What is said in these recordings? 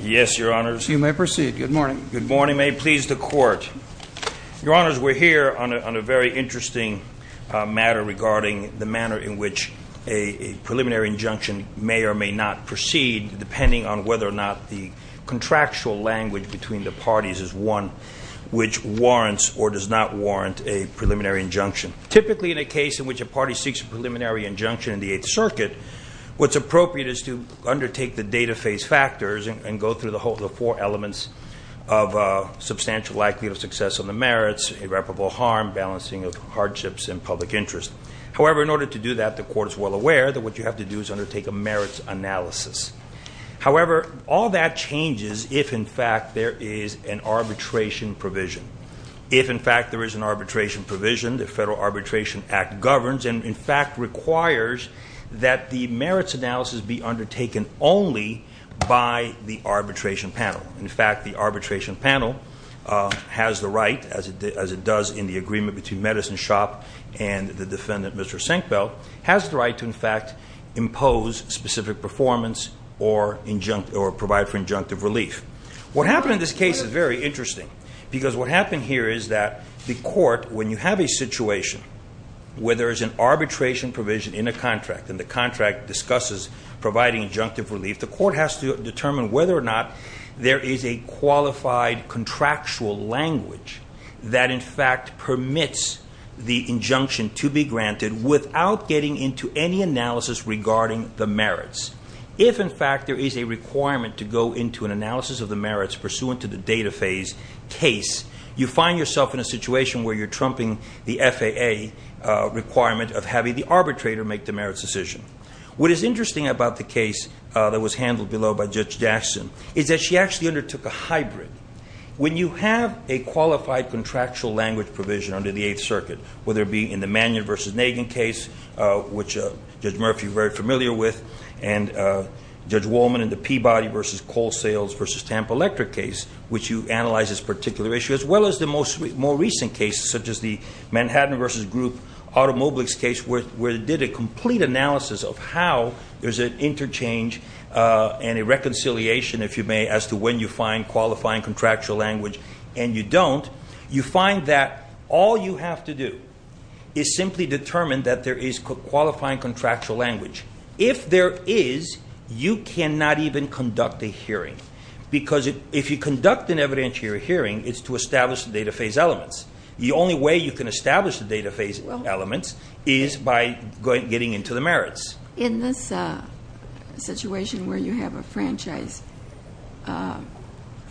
Yes, Your Honors. You may proceed. Good morning. Good morning. May it please the Court. Your Honors, we're here on a very interesting matter regarding the manner in which a preliminary injunction may or may not proceed depending on whether or not the contractual language between the parties is one which warrants or does not warrant a preliminary injunction. Typically in a case in which a party seeks a preliminary injunction in the Eighth Circuit, what's appropriate is to go through the four elements of substantial likelihood of success on the merits, irreparable harm, balancing of hardships, and public interest. However, in order to do that, the Court is well aware that what you have to do is undertake a merits analysis. However, all that changes if in fact there is an arbitration provision. If in fact there is an arbitration provision, the Federal Arbitration Act governs and in fact requires that the merits analysis be undertaken only by the arbitration panel. In fact, the arbitration panel has the right, as it does in the agreement between Medicine Shop and the defendant, Mr. Senkbeil, has the right to in fact impose specific performance or provide for injunctive relief. What happened in this case is very interesting because what happened here is that the Court, when you have a situation discusses providing injunctive relief, the Court has to determine whether or not there is a qualified contractual language that in fact permits the injunction to be granted without getting into any analysis regarding the merits. If in fact there is a requirement to go into an analysis of the merits pursuant to the data phase case, you find yourself in a situation where you're trumping the FAA requirement of having the arbitrator make the merits decision. What is interesting about the case that was handled below by Judge Jackson is that she actually undertook a hybrid. When you have a qualified contractual language provision under the Eighth Circuit, whether it be in the Mannion v. Nagin case, which Judge Murphy is very familiar with, and Judge Wolman in the Peabody v. Colesales v. Tampa Electric case, which you analyze this particular issue, as well as the more recent cases such as the Manhattan v. Group Automobiles case where they did a complete analysis of how there's an interchange and a reconciliation, if you may, as to when you find qualifying contractual language and you don't, you find that all you have to do is simply determine that there is qualifying contractual language. If there is, you cannot even conduct a hearing because if you conduct an evidentiary hearing, it's to establish the data phase elements. The only way you can establish the data phase elements is by getting into the merits. In this situation where you have a franchise or a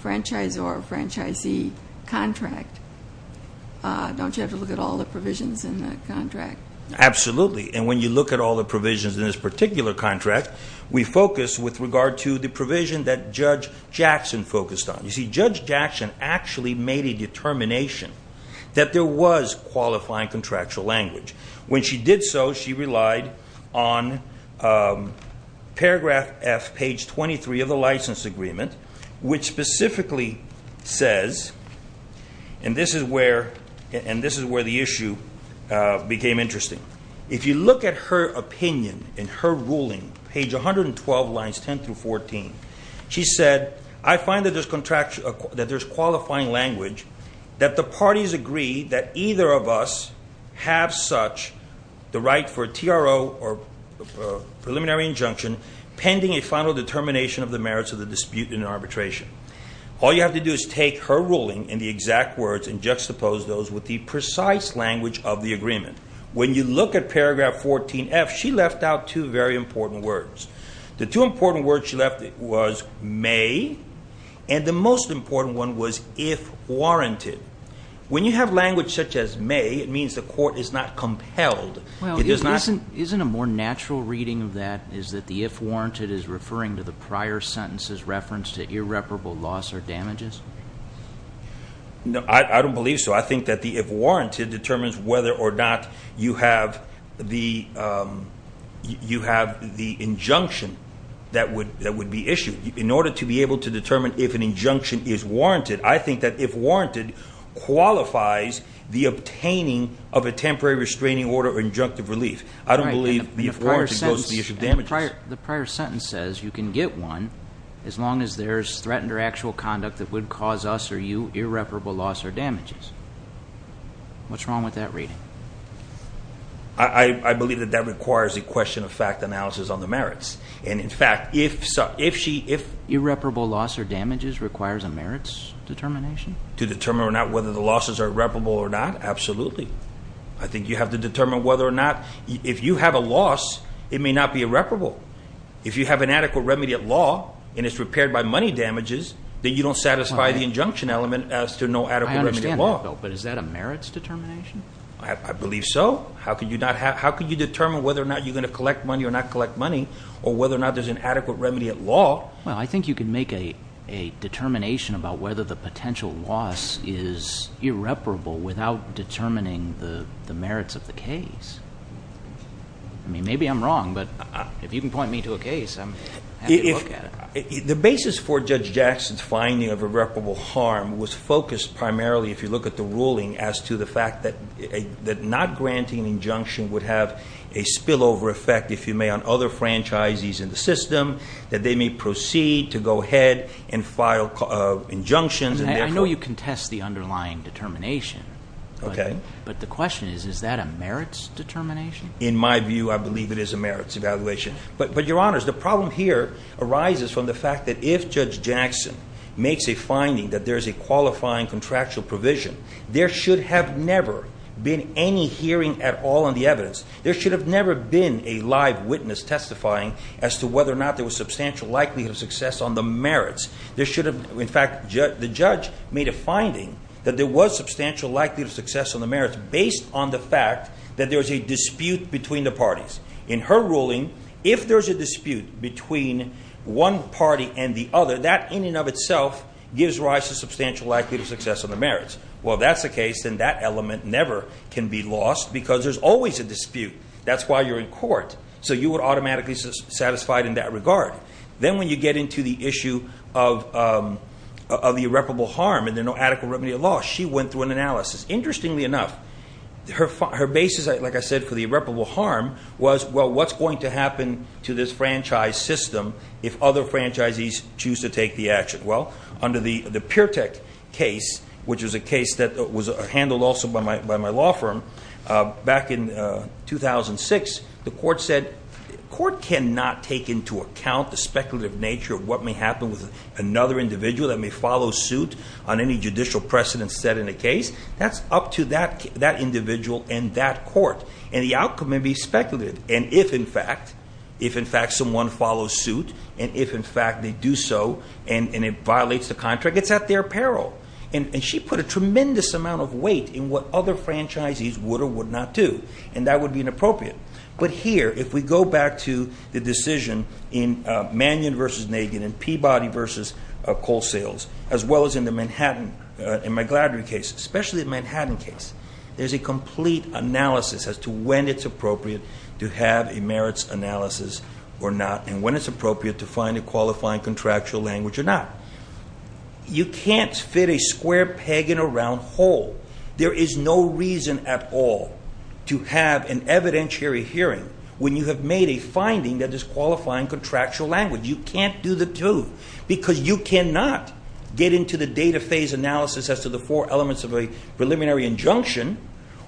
franchisee contract, don't you have to look at all the provisions in the contract? Absolutely, and when you look at all the provisions in this particular contract, we focus with regard to the provision that Judge Jackson focused on. You see, Judge Jackson actually made a determination that there was qualifying contractual language. When she did so, she relied on paragraph F, page 23 of the license agreement, which specifically says, and this is where the issue became interesting. If you look at her opinion in her ruling, page 112, lines 10 through 14, she said, I find that there's qualifying language that the parties agree that either of us have such the right for a TRO or preliminary injunction pending a final determination of the merits of the dispute in arbitration. All you have to do is take her ruling and the exact words and juxtapose those with the precise language of the agreement. When you look at paragraph 14F, she left out two very important words. The two important words she left was may and the most important one was if warranted. When you have language such as may, it means the court is not compelled. Isn't a more natural reading of that is that the if warranted is referring to the prior sentence's reference to irreparable loss or damages? I don't believe so. I think that the if warranted determines whether or not you have the injunction that would be issued. In order to be able to determine if an injunction is warranted, I think that if warranted qualifies the obtaining of a temporary restraining order or injunctive relief. I don't believe the if warranted goes to the issue of damages. The prior sentence says you can get one as long as there's threatened or actual conduct that would cause us or you irreparable loss or damages. What's wrong with that reading? I believe that that requires a question of fact analysis on the merits. In fact, if irreparable loss or damages requires a merits determination? To determine or not whether the losses are irreparable or not? Absolutely. I think you have to determine whether or not if you have a loss, it may not be irreparable. If you have an adequate remediate law and it's repaired by money damages, then you don't satisfy the injunction element as to no adequate remediate law. I understand that, but is that a merits determination? Well, I think you can make a determination about whether the potential loss is irreparable without determining the merits of the case. Maybe I'm wrong, but if you can point me to a case, I'm happy to look at it. The basis for Judge Jackson's finding of irreparable harm was focused primarily, if you look at the ruling, as to the fact that not granting an injunction would have a spillover effect on other franchises in the system, that they may proceed to go ahead and file injunctions. I know you contest the underlying determination, but the question is, is that a merits determination? In my view, I believe it is a merits evaluation. But, Your Honors, the problem here arises from the fact that if Judge Jackson makes a finding that there's a qualifying contractual provision, there should have never been any hearing at all on the evidence. There should have never been a live witness testifying as to whether or not there was substantial likelihood of success on the merits. The judge made a finding that there was substantial likelihood of success on the merits based on the fact that there was a dispute between the parties. In her ruling, if there's a dispute between one party and the other, that in and of itself gives rise to substantial likelihood of success on the merits. Well, if that's the case, then that element never can be lost because there's always a dispute. That's why you're in court. You are automatically satisfied in that regard. Then, when you get into the issue of the irreparable harm and there's no adequate remedy of loss, she went through an analysis. Interestingly enough, her basis, like I said, for the irreparable harm was, well, what's going to happen to this franchise system if other franchisees choose to take the action? Well, under the Peer Tech case, which was a case that was back in 2006, the court said the court cannot take into account the speculative nature of what may happen with another individual that may follow suit on any judicial precedent set in a case. That's up to that individual and that court. The outcome may be speculative. If, in fact, someone follows suit and if, in fact, they do so and it violates the contract, it's at their peril. She put a tremendous amount of time into what other franchisees would or would not do. That would be inappropriate. Here, if we go back to the decision in Mannion v. Nagin and Peabody v. Coal Sales, as well as in the McGladrey case, especially the Manhattan case, there's a complete analysis as to when it's appropriate to have a merits analysis or not and when it's appropriate to find a qualifying contractual language or not. You can't fit a square peg in a round hole. There is no reason at all to have an evidentiary hearing when you have made a finding that is qualifying contractual language. You can't do the two because you cannot get into the data phase analysis as to the four elements of a preliminary injunction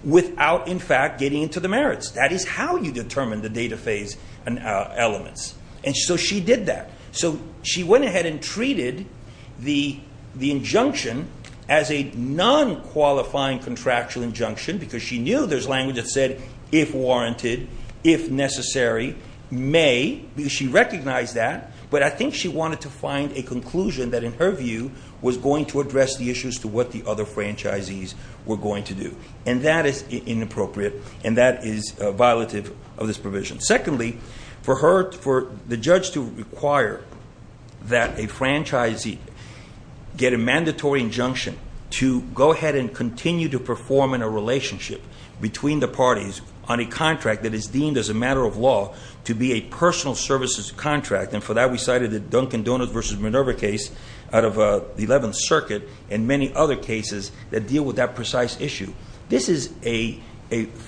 without, in fact, getting into the merits. That is how you determine the data phase elements. She did that. She went ahead and treated the non-qualifying contractual injunction because she knew there's language that said if warranted, if necessary, may because she recognized that, but I think she wanted to find a conclusion that in her view was going to address the issues to what the other franchisees were going to do. That is inappropriate and that is violative of this provision. Secondly, for the judge to require that a franchisee get a mandatory injunction to go ahead and continue to perform in a relationship between the parties on a contract that is deemed as a matter of law to be a personal services contract, and for that we cited the Dunkin' Donuts v. Minerva case out of the 11th Circuit and many other cases that deal with that precise issue. This is a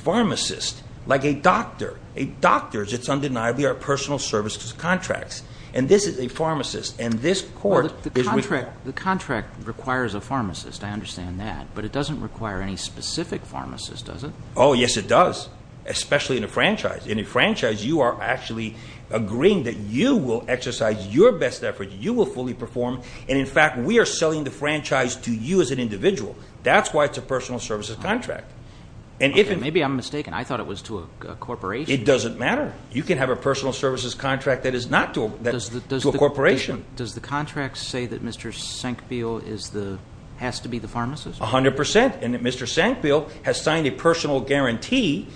pharmacist, like a doctor. A doctor, it's undeniably our personal services contracts and this is a pharmacist and this The contract requires a pharmacist. I understand that, but it doesn't require any specific pharmacist, does it? Oh, yes, it does, especially in a franchise. In a franchise, you are actually agreeing that you will exercise your best effort, you will fully perform, and in fact, we are selling the franchise to you as an individual. That's why it's a personal services contract. Maybe I'm mistaken. I thought it was to a corporation. It doesn't matter. You can have a personal services contract that is not to a corporation. Does the contract say that Mr. Sankfield has to be the pharmacist? 100 percent, and that Mr. Sankfield has signed a personal guarantee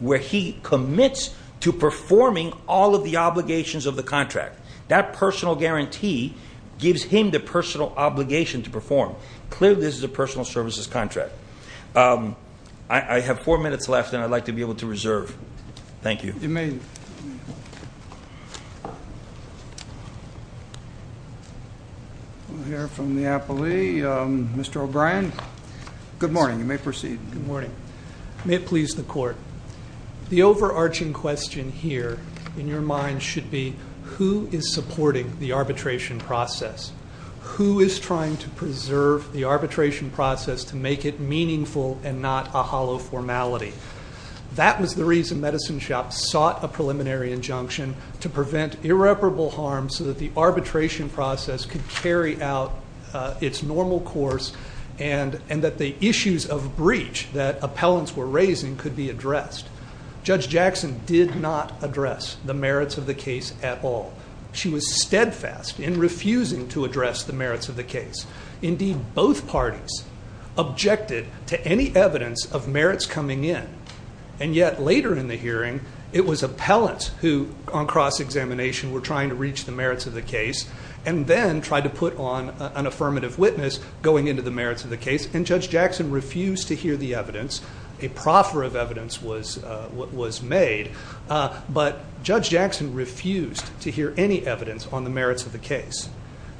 where he commits to performing all of the obligations of the contract. That personal guarantee gives him the personal obligation to perform. Clearly, this is a personal services contract. I have four minutes left and I'd like to be able to reserve. Thank you. We'll hear from the appellee. Mr. O'Brien, good morning. You may proceed. Good morning. May it please the court. The overarching question here, in your mind, should be who is supporting the arbitration process? Who is trying to preserve the arbitration process to make it meaningful and not a hollow formality? That was the reason Medicine Shop sought a preliminary injunction to prevent irreparable harm so that the arbitration process could carry out its normal course and that the issues of breach that appellants were raising could be addressed. Judge Jackson did not address the merits of the case at all. She was steadfast in refusing to address the merits of the case. Indeed, both parties objected to any evidence of merits coming in, and yet later in the two on cross-examination were trying to reach the merits of the case and then tried to put on an affirmative witness going into the merits of the case and Judge Jackson refused to hear the evidence. A proffer of evidence was made, but Judge Jackson refused to hear any evidence on the merits of the case.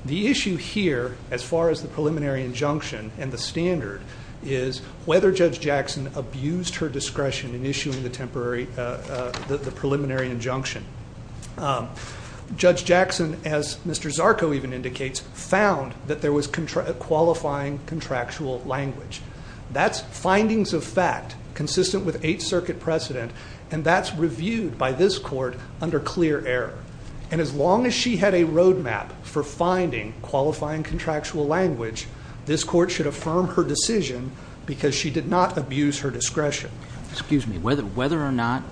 The issue here, as far as the preliminary injunction and the standard, is whether Judge Jackson abused her discretion in issuing the temporary the preliminary injunction. Judge Jackson, as Mr. Zarco even indicates, found that there was qualifying contractual language. That's findings of fact consistent with Eighth Circuit precedent, and that's reviewed by this court under clear error. And as long as she had a road map for finding qualifying contractual language, this court should affirm her decision because she did not abuse her discretion. Excuse me. Whether or not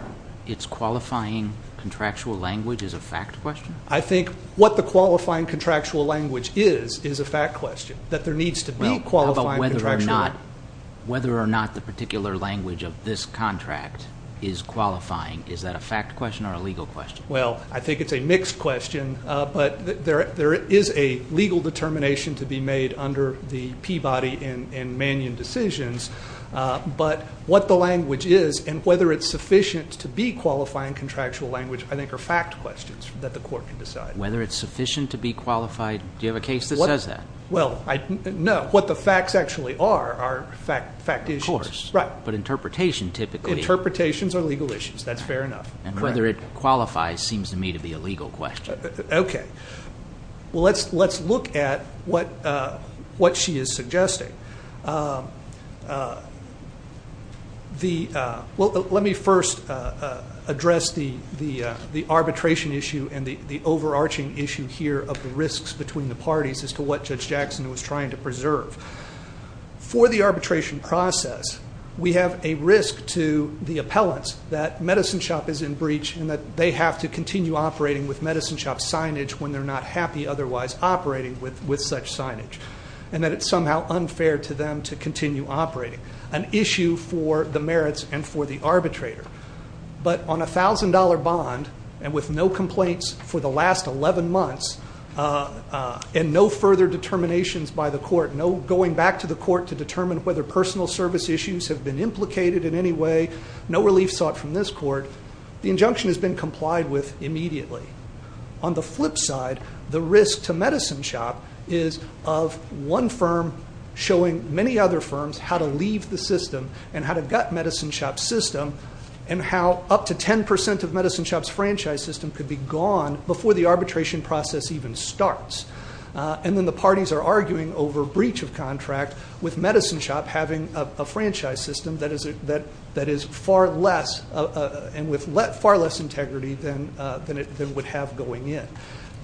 it's qualifying contractual language is a fact question? I think what the qualifying contractual language is, is a fact question. That there needs to be qualifying contractual language. Whether or not the particular language of this contract is qualifying, is that a fact question or a legal question? Well, I think it's a mixed question, but there is a legal determination to be made under the Peabody and Mannion decisions, but what the language is and whether it's sufficient to be qualifying contractual language, I think are fact questions that the court can decide. Whether it's sufficient to be qualified? Do you have a case that says that? No. What the facts actually are, are fact issues. But interpretation typically is. Interpretations are legal issues. That's fair enough. Whether it qualifies seems to me to be a legal question. Let's look at what she is suggesting. Let me first address the arbitration issue and the overarching issue here of the risks between the parties as to what Judge Jackson was trying to preserve. For the arbitration process, we have a risk to the appellants that Medicine Shop is in breach and that they have to continue operating with Medicine Shop signage when they're not happy otherwise operating with such signage. And that it's somehow unfair to them to continue operating. An issue for the merits and for the arbitrator. But on a $1,000 bond and with no complaints for the last 11 months and no further determinations by the court, no going back to the court to determine whether personal service issues have been implicated in any way, no relief sought from this court, the injunction has been complied with immediately. On the flip side, the risk to Medicine Shop is of one firm showing many other firms how to leave the system and how to gut Medicine Shop's system and how up to 10% of Medicine Shop's franchise system could be gone before the arbitration process even starts. And then the parties are arguing over breach of contract with Medicine Shop having a franchise system that is far less and with far less integrity than it would have going in.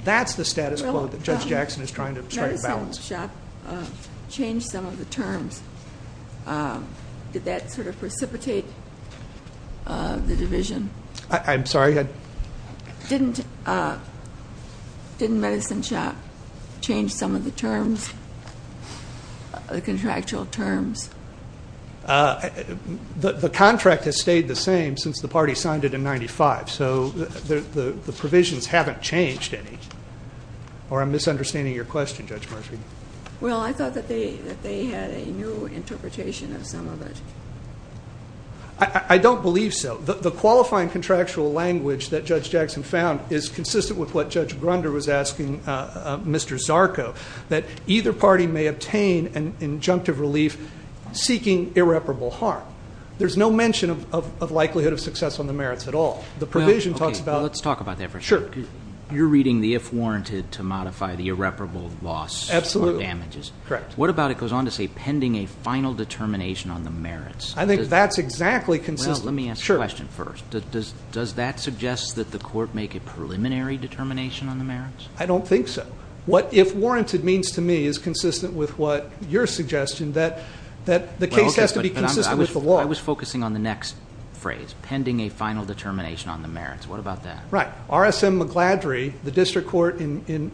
That's the status quo that Judge Jackson is trying to strike balance. Did Medicine Shop change some of the terms? Did that sort of precipitate the division? I'm sorry? Didn't Medicine Shop change some of the terms, the contractual terms? The contract has stayed the same since the party signed it in 95. So the provisions haven't changed any. Or I'm misunderstanding your question, Judge Murphy. Well, I thought that they had a new interpretation of some of it. I don't believe so. The qualifying contractual language that Judge Jackson found is consistent with what Judge Grunder was asking Mr. Zarco, that either party may obtain an injunctive relief seeking irreparable harm. There's no mention of likelihood of success on the merits at all. The provision talks about... Let's talk about that for a second. You're reading the if warranted to modify the irreparable loss on damages. Absolutely. Correct. What about it goes on to say pending a final determination on the merits. I think that's exactly consistent. Well, let me ask a question first. Does that suggest that the court make a preliminary determination on the merits? I don't think so. What if warranted means to me is consistent with what your suggestion that the case has to be consistent with the law. I was focusing on the next phrase. Pending a final determination on the merits. What about that? Right. R.S.M. Magladry, the district court in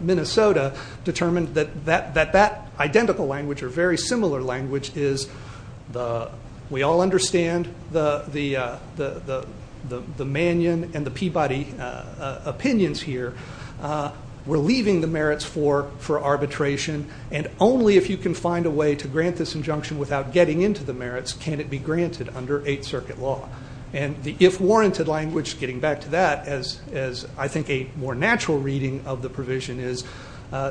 Minnesota, determined that that identical language or very similar language is the... We all understand the Mannion and the Peabody opinions here. We're leaving the merits for arbitration and only if you can find a way to grant this injunction without getting into the merits can it be granted under Eighth Circuit law. And the if warranted language getting back to that as I think a more natural reading of the provision is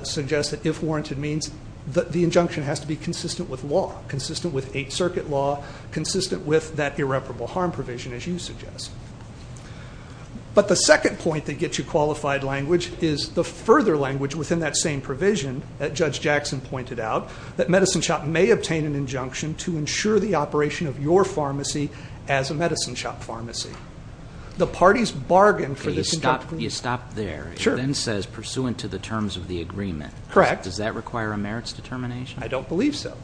suggests that if warranted means that the injunction has to be consistent with law. Consistent with Eighth Circuit law. Consistent with that irreparable harm provision as you suggest. But the second point that gets you qualified language is the further language within that same provision that Judge Jackson pointed out that Medicine Shop may obtain an injunction to ensure the operation of your pharmacy as a Medicine Shop pharmacy. The parties bargain for this... You stop there. Sure. It then says pursuant to the terms of the agreement. Correct. Does that require a merits determination? I don't believe so.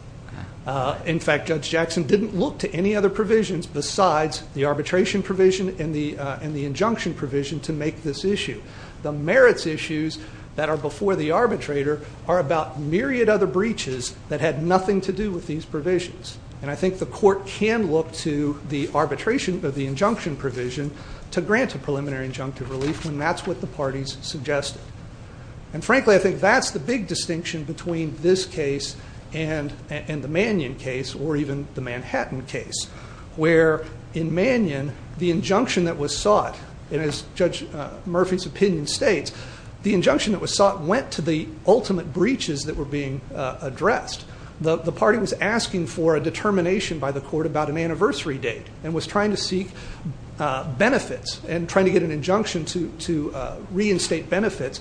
In fact, Judge Jackson didn't look to any other provisions besides the arbitration provision and the injunction provision to make this issue. The merits issues that are before the arbitrator are about myriad other breaches that had nothing to do with these provisions. And I think the court can look to the arbitration of the injunction provision to grant a preliminary injunctive relief when that's what the parties suggested. And frankly I think that's the big distinction between this case and the Mannion case or even the Manhattan case. Where in Mannion the injunction that was sought and as Judge Murphy's opinion states, the injunction that was sought went to the ultimate rest. The party was asking for a determination by the court about an anniversary date and was trying to seek benefits and trying to get an injunction to reinstate benefits.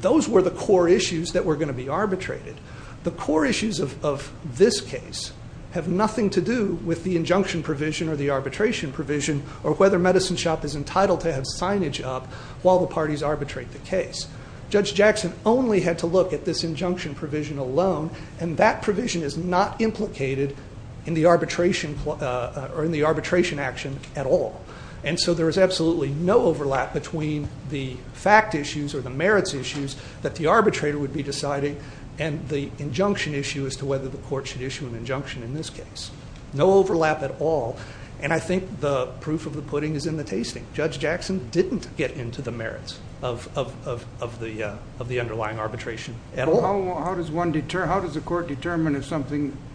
Those were the core issues that were going to be arbitrated. The core issues of this case have nothing to do with the injunction provision or the arbitration provision or whether Medicine Shop is entitled to have signage up while the parties arbitrate the case. Judge Jackson only had to look at this injunction provision alone and that provision is not implicated in the arbitration action at all. And so there is absolutely no overlap between the fact issues or the merits issues that the arbitrator would be deciding and the injunction issue as to whether the court should issue an injunction in this case. No overlap at all. And I think the proof of the pudding is in the tasting. Judge Jackson didn't get into the merits of the underlying arbitration at all. How does the court determine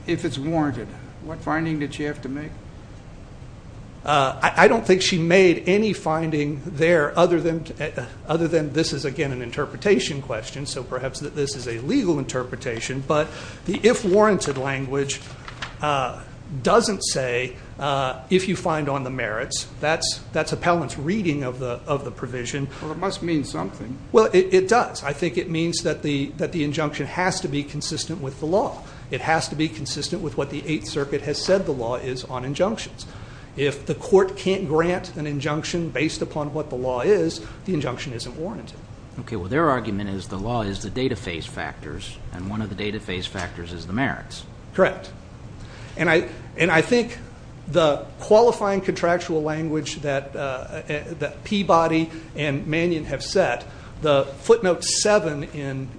if it's warranted? What finding did she have to make? I don't think she made any finding there other than this is again an interpretation question so perhaps this is a legal interpretation but the if warranted language doesn't say if you find on the merits. That's appellant's reading of the provision. Well it must mean something. Well it does. I think it means that the injunction has to be consistent with the law. It has to be consistent with what the Eighth Circuit has said the law is on injunctions. If the court can't grant an injunction based upon what the law is, the injunction isn't warranted. Okay well their argument is the law is the data phase factors and one of the data phase factors is the merits. Correct. And I think the qualifying contractual language that Peabody and Mannion have set, the footnote 7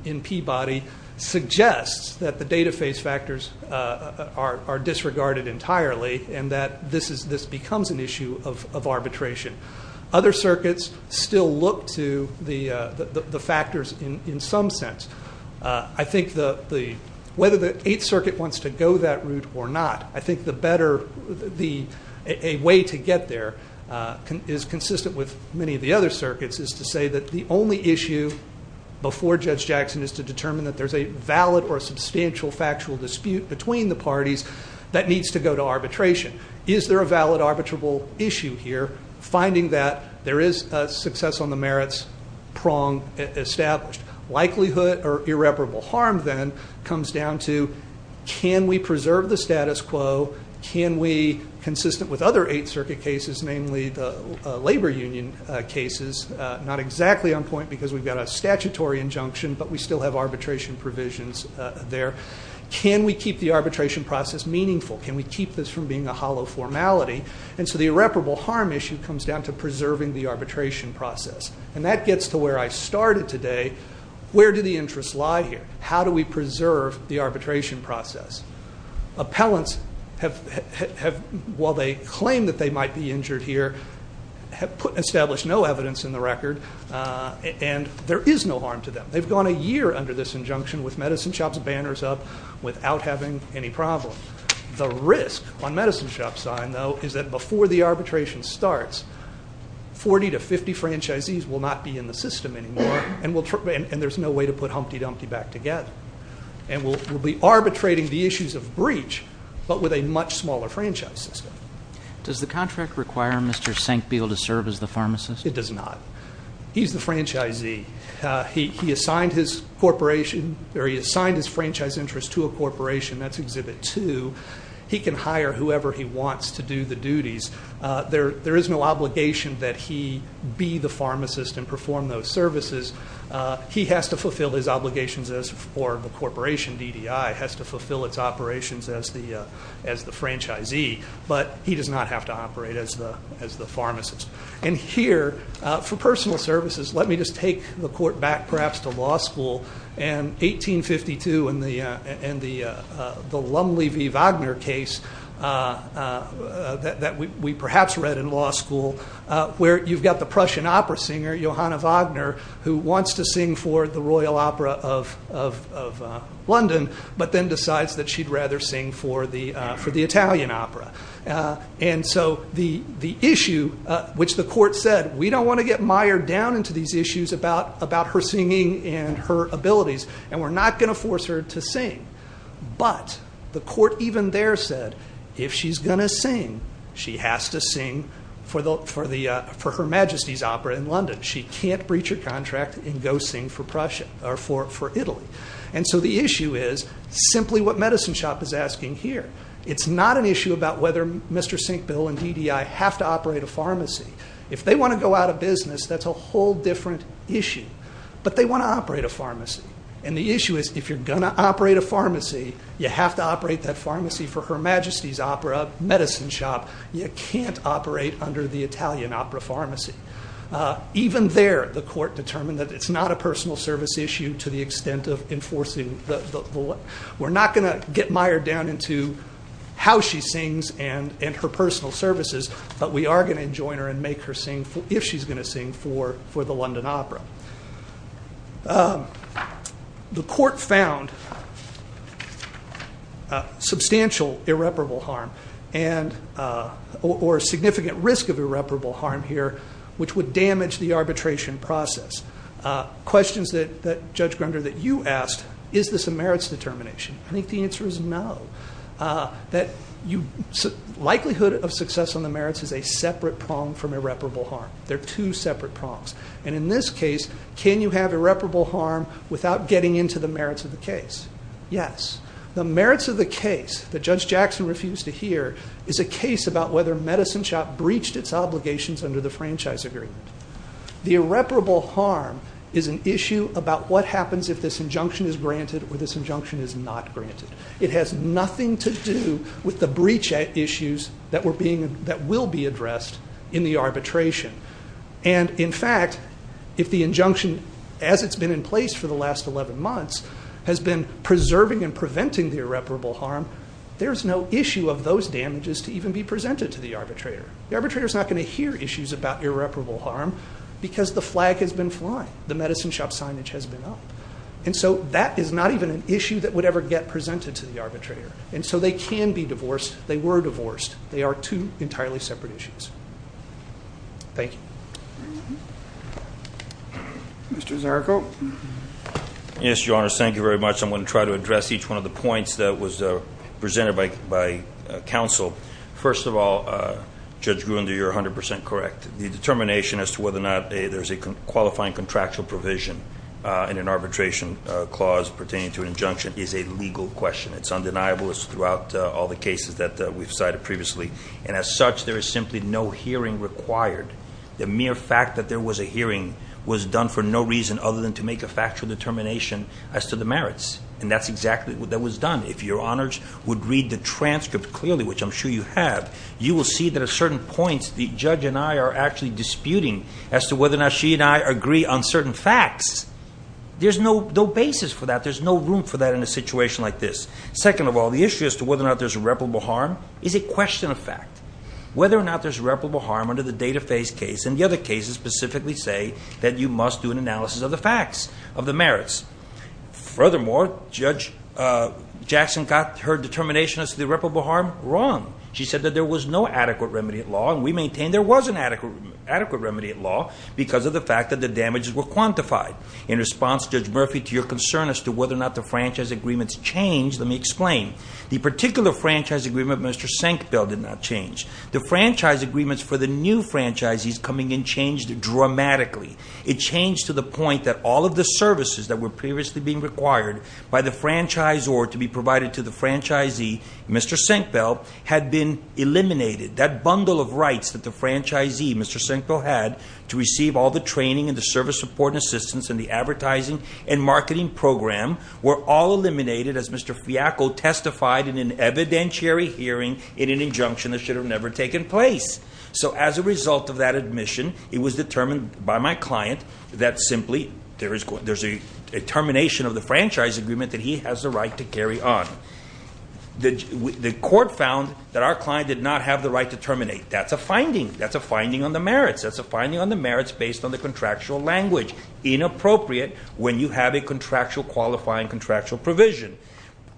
in Peabody suggests that the data phase factors are disregarded entirely and that this becomes an issue of arbitration. Other circuits still look to the factors in some sense. I think whether the Eighth Circuit wants to go that route or not, I think a way to get there is consistent with many of the other circuits is to say that the only issue before Judge Jackson is to determine that there's a valid or substantial factual dispute between the parties that needs to go to arbitration. Is there a valid arbitrable issue here? Finding that there is a success on the merits prong established. Likelihood or irreparable harm then comes down to can we preserve the status quo? Can we, consistent with other Eighth Circuit cases, namely the labor union cases, not exactly on point because we've got a statutory injunction but we still have arbitration provisions there, can we keep the arbitration process meaningful? Can we keep this from being a hollow formality? And so the irreparable harm issue comes down to preserving the arbitration process. And that gets to where I started today, where do the interests lie here? How do we preserve the arbitration process? Appellants while they claim that they might be injured here have established no evidence in the record and there is no harm to them. They've gone a year under this injunction with medicine shops banners up without having any problem. The risk on medicine shop sign though is that before the arbitration starts 40 to 50 franchisees will not be in the system anymore and there's no way to put Humpty Dumpty back together. And we'll be arbitrating the issues of breach but with a much smaller franchise system. Does the contract require Mr. Sankbeil to serve as the pharmacist? It does not. He's the franchisee. He assigned his corporation or he assigned his franchise interest to a corporation, that's Exhibit 2. He can hire whoever he wants to do the duties. There is no obligation that he be the pharmacist and perform those services. He has to fulfill his obligations as for the corporation DDI has to fulfill its operations as the franchisee but he does not have to operate as the pharmacist. And here for personal services let me just take the court back perhaps to law school and 1852 and the Lumley v. Wagner case that we perhaps read in law school where you've got the Prussian opera singer Johanna Wagner who wants to sing for the Queen of London but then decides that she'd rather sing for the Italian opera. And so the issue which the court said we don't want to get mired down into these issues about her singing and her abilities and we're not going to force her to sing. But the court even there said if she's going to sing she has to sing for her Majesty's opera in London. She can't breach her contract and go sing for Italy. And so the issue is simply what Medicine Shop is asking here. It's not an issue about whether Mr. Sinkbill and DDI have to operate a pharmacy. If they want to go out of business that's a whole different issue. But they want to operate a pharmacy. And the issue is if you're going to operate a pharmacy you have to operate that pharmacy for her Majesty's opera Medicine Shop. You can't operate under the Italian opera pharmacy. Even there the court determined that it's not a personal service issue to the extent of enforcing the law. We're not going to get mired down into how she sings and her personal services but we are going to join her and make her sing if she's going to sing for the London opera. The court found substantial irreparable harm or significant risk of irreparable harm here which would damage the arbitration process. Questions that Judge Grunder that you asked is this a merits determination? I think the answer is no. Likelihood of success on the merits is a separate prong from irreparable harm. They're two separate prongs. And in this case can you have irreparable harm without getting into the merits of the case? Yes. The merits of the case that Judge Jackson refused to hear is a case about whether Medicine Shop breached its obligations under the franchise agreement. The irreparable harm is an issue about what happens if this injunction is granted or this injunction is not granted. It has nothing to do with the breach issues that were being that will be addressed in the arbitration. And in fact if the injunction as it's been in place for the last 11 months has been preserving and preventing the irreparable harm there's no issue of those damages to even be presented to the arbitrator. The arbitrator is not going to hear issues about irreparable harm because the flag has been flying. The Medicine Shop signage has been up. And so that is not even an issue that would ever get presented to the arbitrator. And so they can be divorced. They were divorced. They are two entirely separate issues. Thank you. Mr. Zarko. Yes, Your Honor. Thank you very much. I'm going to try to address each one of the points that was presented by counsel. First of all, Judge Gruen, you're 100% correct. The determination as to whether or not there's a qualifying contractual provision in an arbitration clause pertaining to an injunction is a legal question. It's undeniable. It's throughout all the cases that we've cited previously. And as such, there is simply no hearing required. The mere fact that there was a hearing was done for no reason other than to make a factual determination as to the merits. And that's exactly what was done. If Your Honors would read the transcript clearly, which I'm sure you have, you will see that at certain points the judge and I are actually disputing as to whether or not she and I agree on certain facts. There's no basis for that. There's no room for that in a situation like this. Second of all, the issue as to whether or not there's irreparable harm is a question of fact. Whether or not there's irreparable harm under the data phase case and the other cases specifically say that you must do an analysis of the facts of the merits. Furthermore, Judge Murphy did not make the determination as to the irreparable harm wrong. She said that there was no adequate remedy at law, and we maintain there was an adequate remedy at law because of the fact that the damages were quantified. In response, Judge Murphy, to your concern as to whether or not the franchise agreements changed, let me explain. The particular franchise agreement with Mr. Sankville did not change. The franchise agreements for the new franchisees coming in changed dramatically. It changed to the point that all of the services that were previously being required by the franchisor to be provided to the franchisee, Mr. Sankville, had been eliminated. That bundle of rights that the franchisee, Mr. Sankville, had to receive all the training and the service support and assistance and the advertising and marketing program were all eliminated as Mr. Fiacco testified in an evidentiary hearing in an injunction that should have never taken place. So as a result of that admission, it was determined by my client that simply there's a determination of the franchise agreement that he has the right to carry on. The court found that our client did not have the right to terminate. That's a finding. That's a finding on the merits. That's a finding on the merits based on the contractual language. Inappropriate when you have a contractual qualifying contractual provision.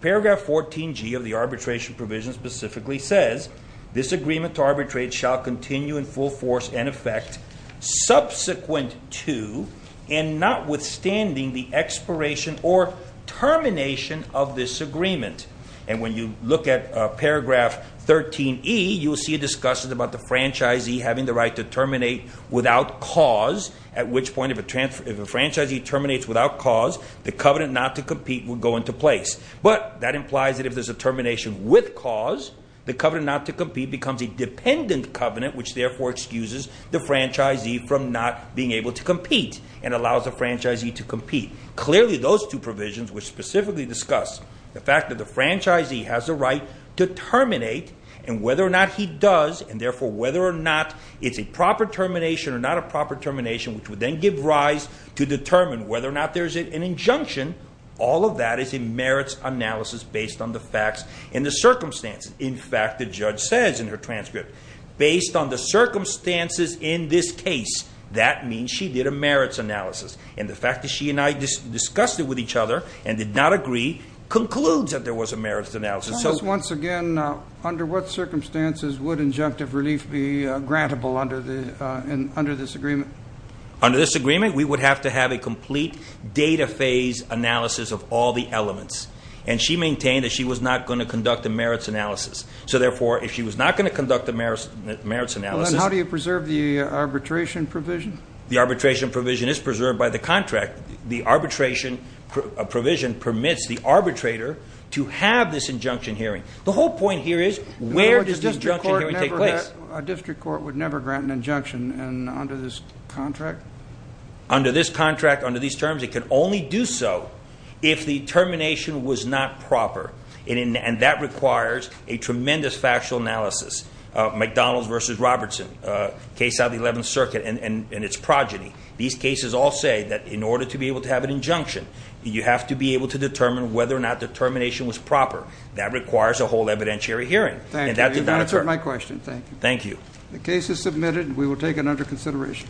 Paragraph 14G of the arbitration provision specifically says, this agreement to arbitrate shall continue in full force and effect subsequent to and notwithstanding the expiration or termination of this agreement. And when you look at paragraph 13E, you will see it discusses about the franchisee having the right to terminate without cause, at which point if a franchisee terminates without cause, the covenant not to compete would go into place. But that implies that if there's a termination with cause, the covenant not to compete becomes a dependent covenant, which therefore excuses the franchisee from not being able to compete and allows the franchisee to compete. Clearly those two provisions, which specifically discuss the fact that the franchisee has the right to terminate and whether or not he does and therefore whether or not it's a proper termination or not a proper termination which would then give rise to determine whether or not there's an injunction, all of that is a merits analysis based on the facts and the circumstances. In fact, the judge says in her transcript, based on the circumstances, that means she did a merits analysis. And the fact that she and I discussed it with each other and did not agree concludes that there was a merits analysis. Once again, under what circumstances would injunctive relief be grantable under this agreement? Under this agreement, we would have to have a complete data phase analysis of all the elements. And she maintained that she was not going to conduct a merits analysis. So therefore, if she was not going to conduct a merits analysis How do you preserve the arbitration provision? The arbitration provision is preserved by the contract. The arbitration provision permits the arbitrator to have this injunction hearing. The whole point here is where does this injunction hearing take place? A district court would never grant an injunction under this contract? Under this contract, under these terms, it can only do so if the termination was not proper. And that requires a tremendous factual analysis. McDonalds v. Robertson, case out of the 11th Circuit and its progeny. These cases all say that in order to be able to have an injunction you have to be able to determine whether or not the termination was proper. That requires a whole evidentiary hearing. Thank you. You've answered my question. Thank you. The case is submitted and we will take it under consideration.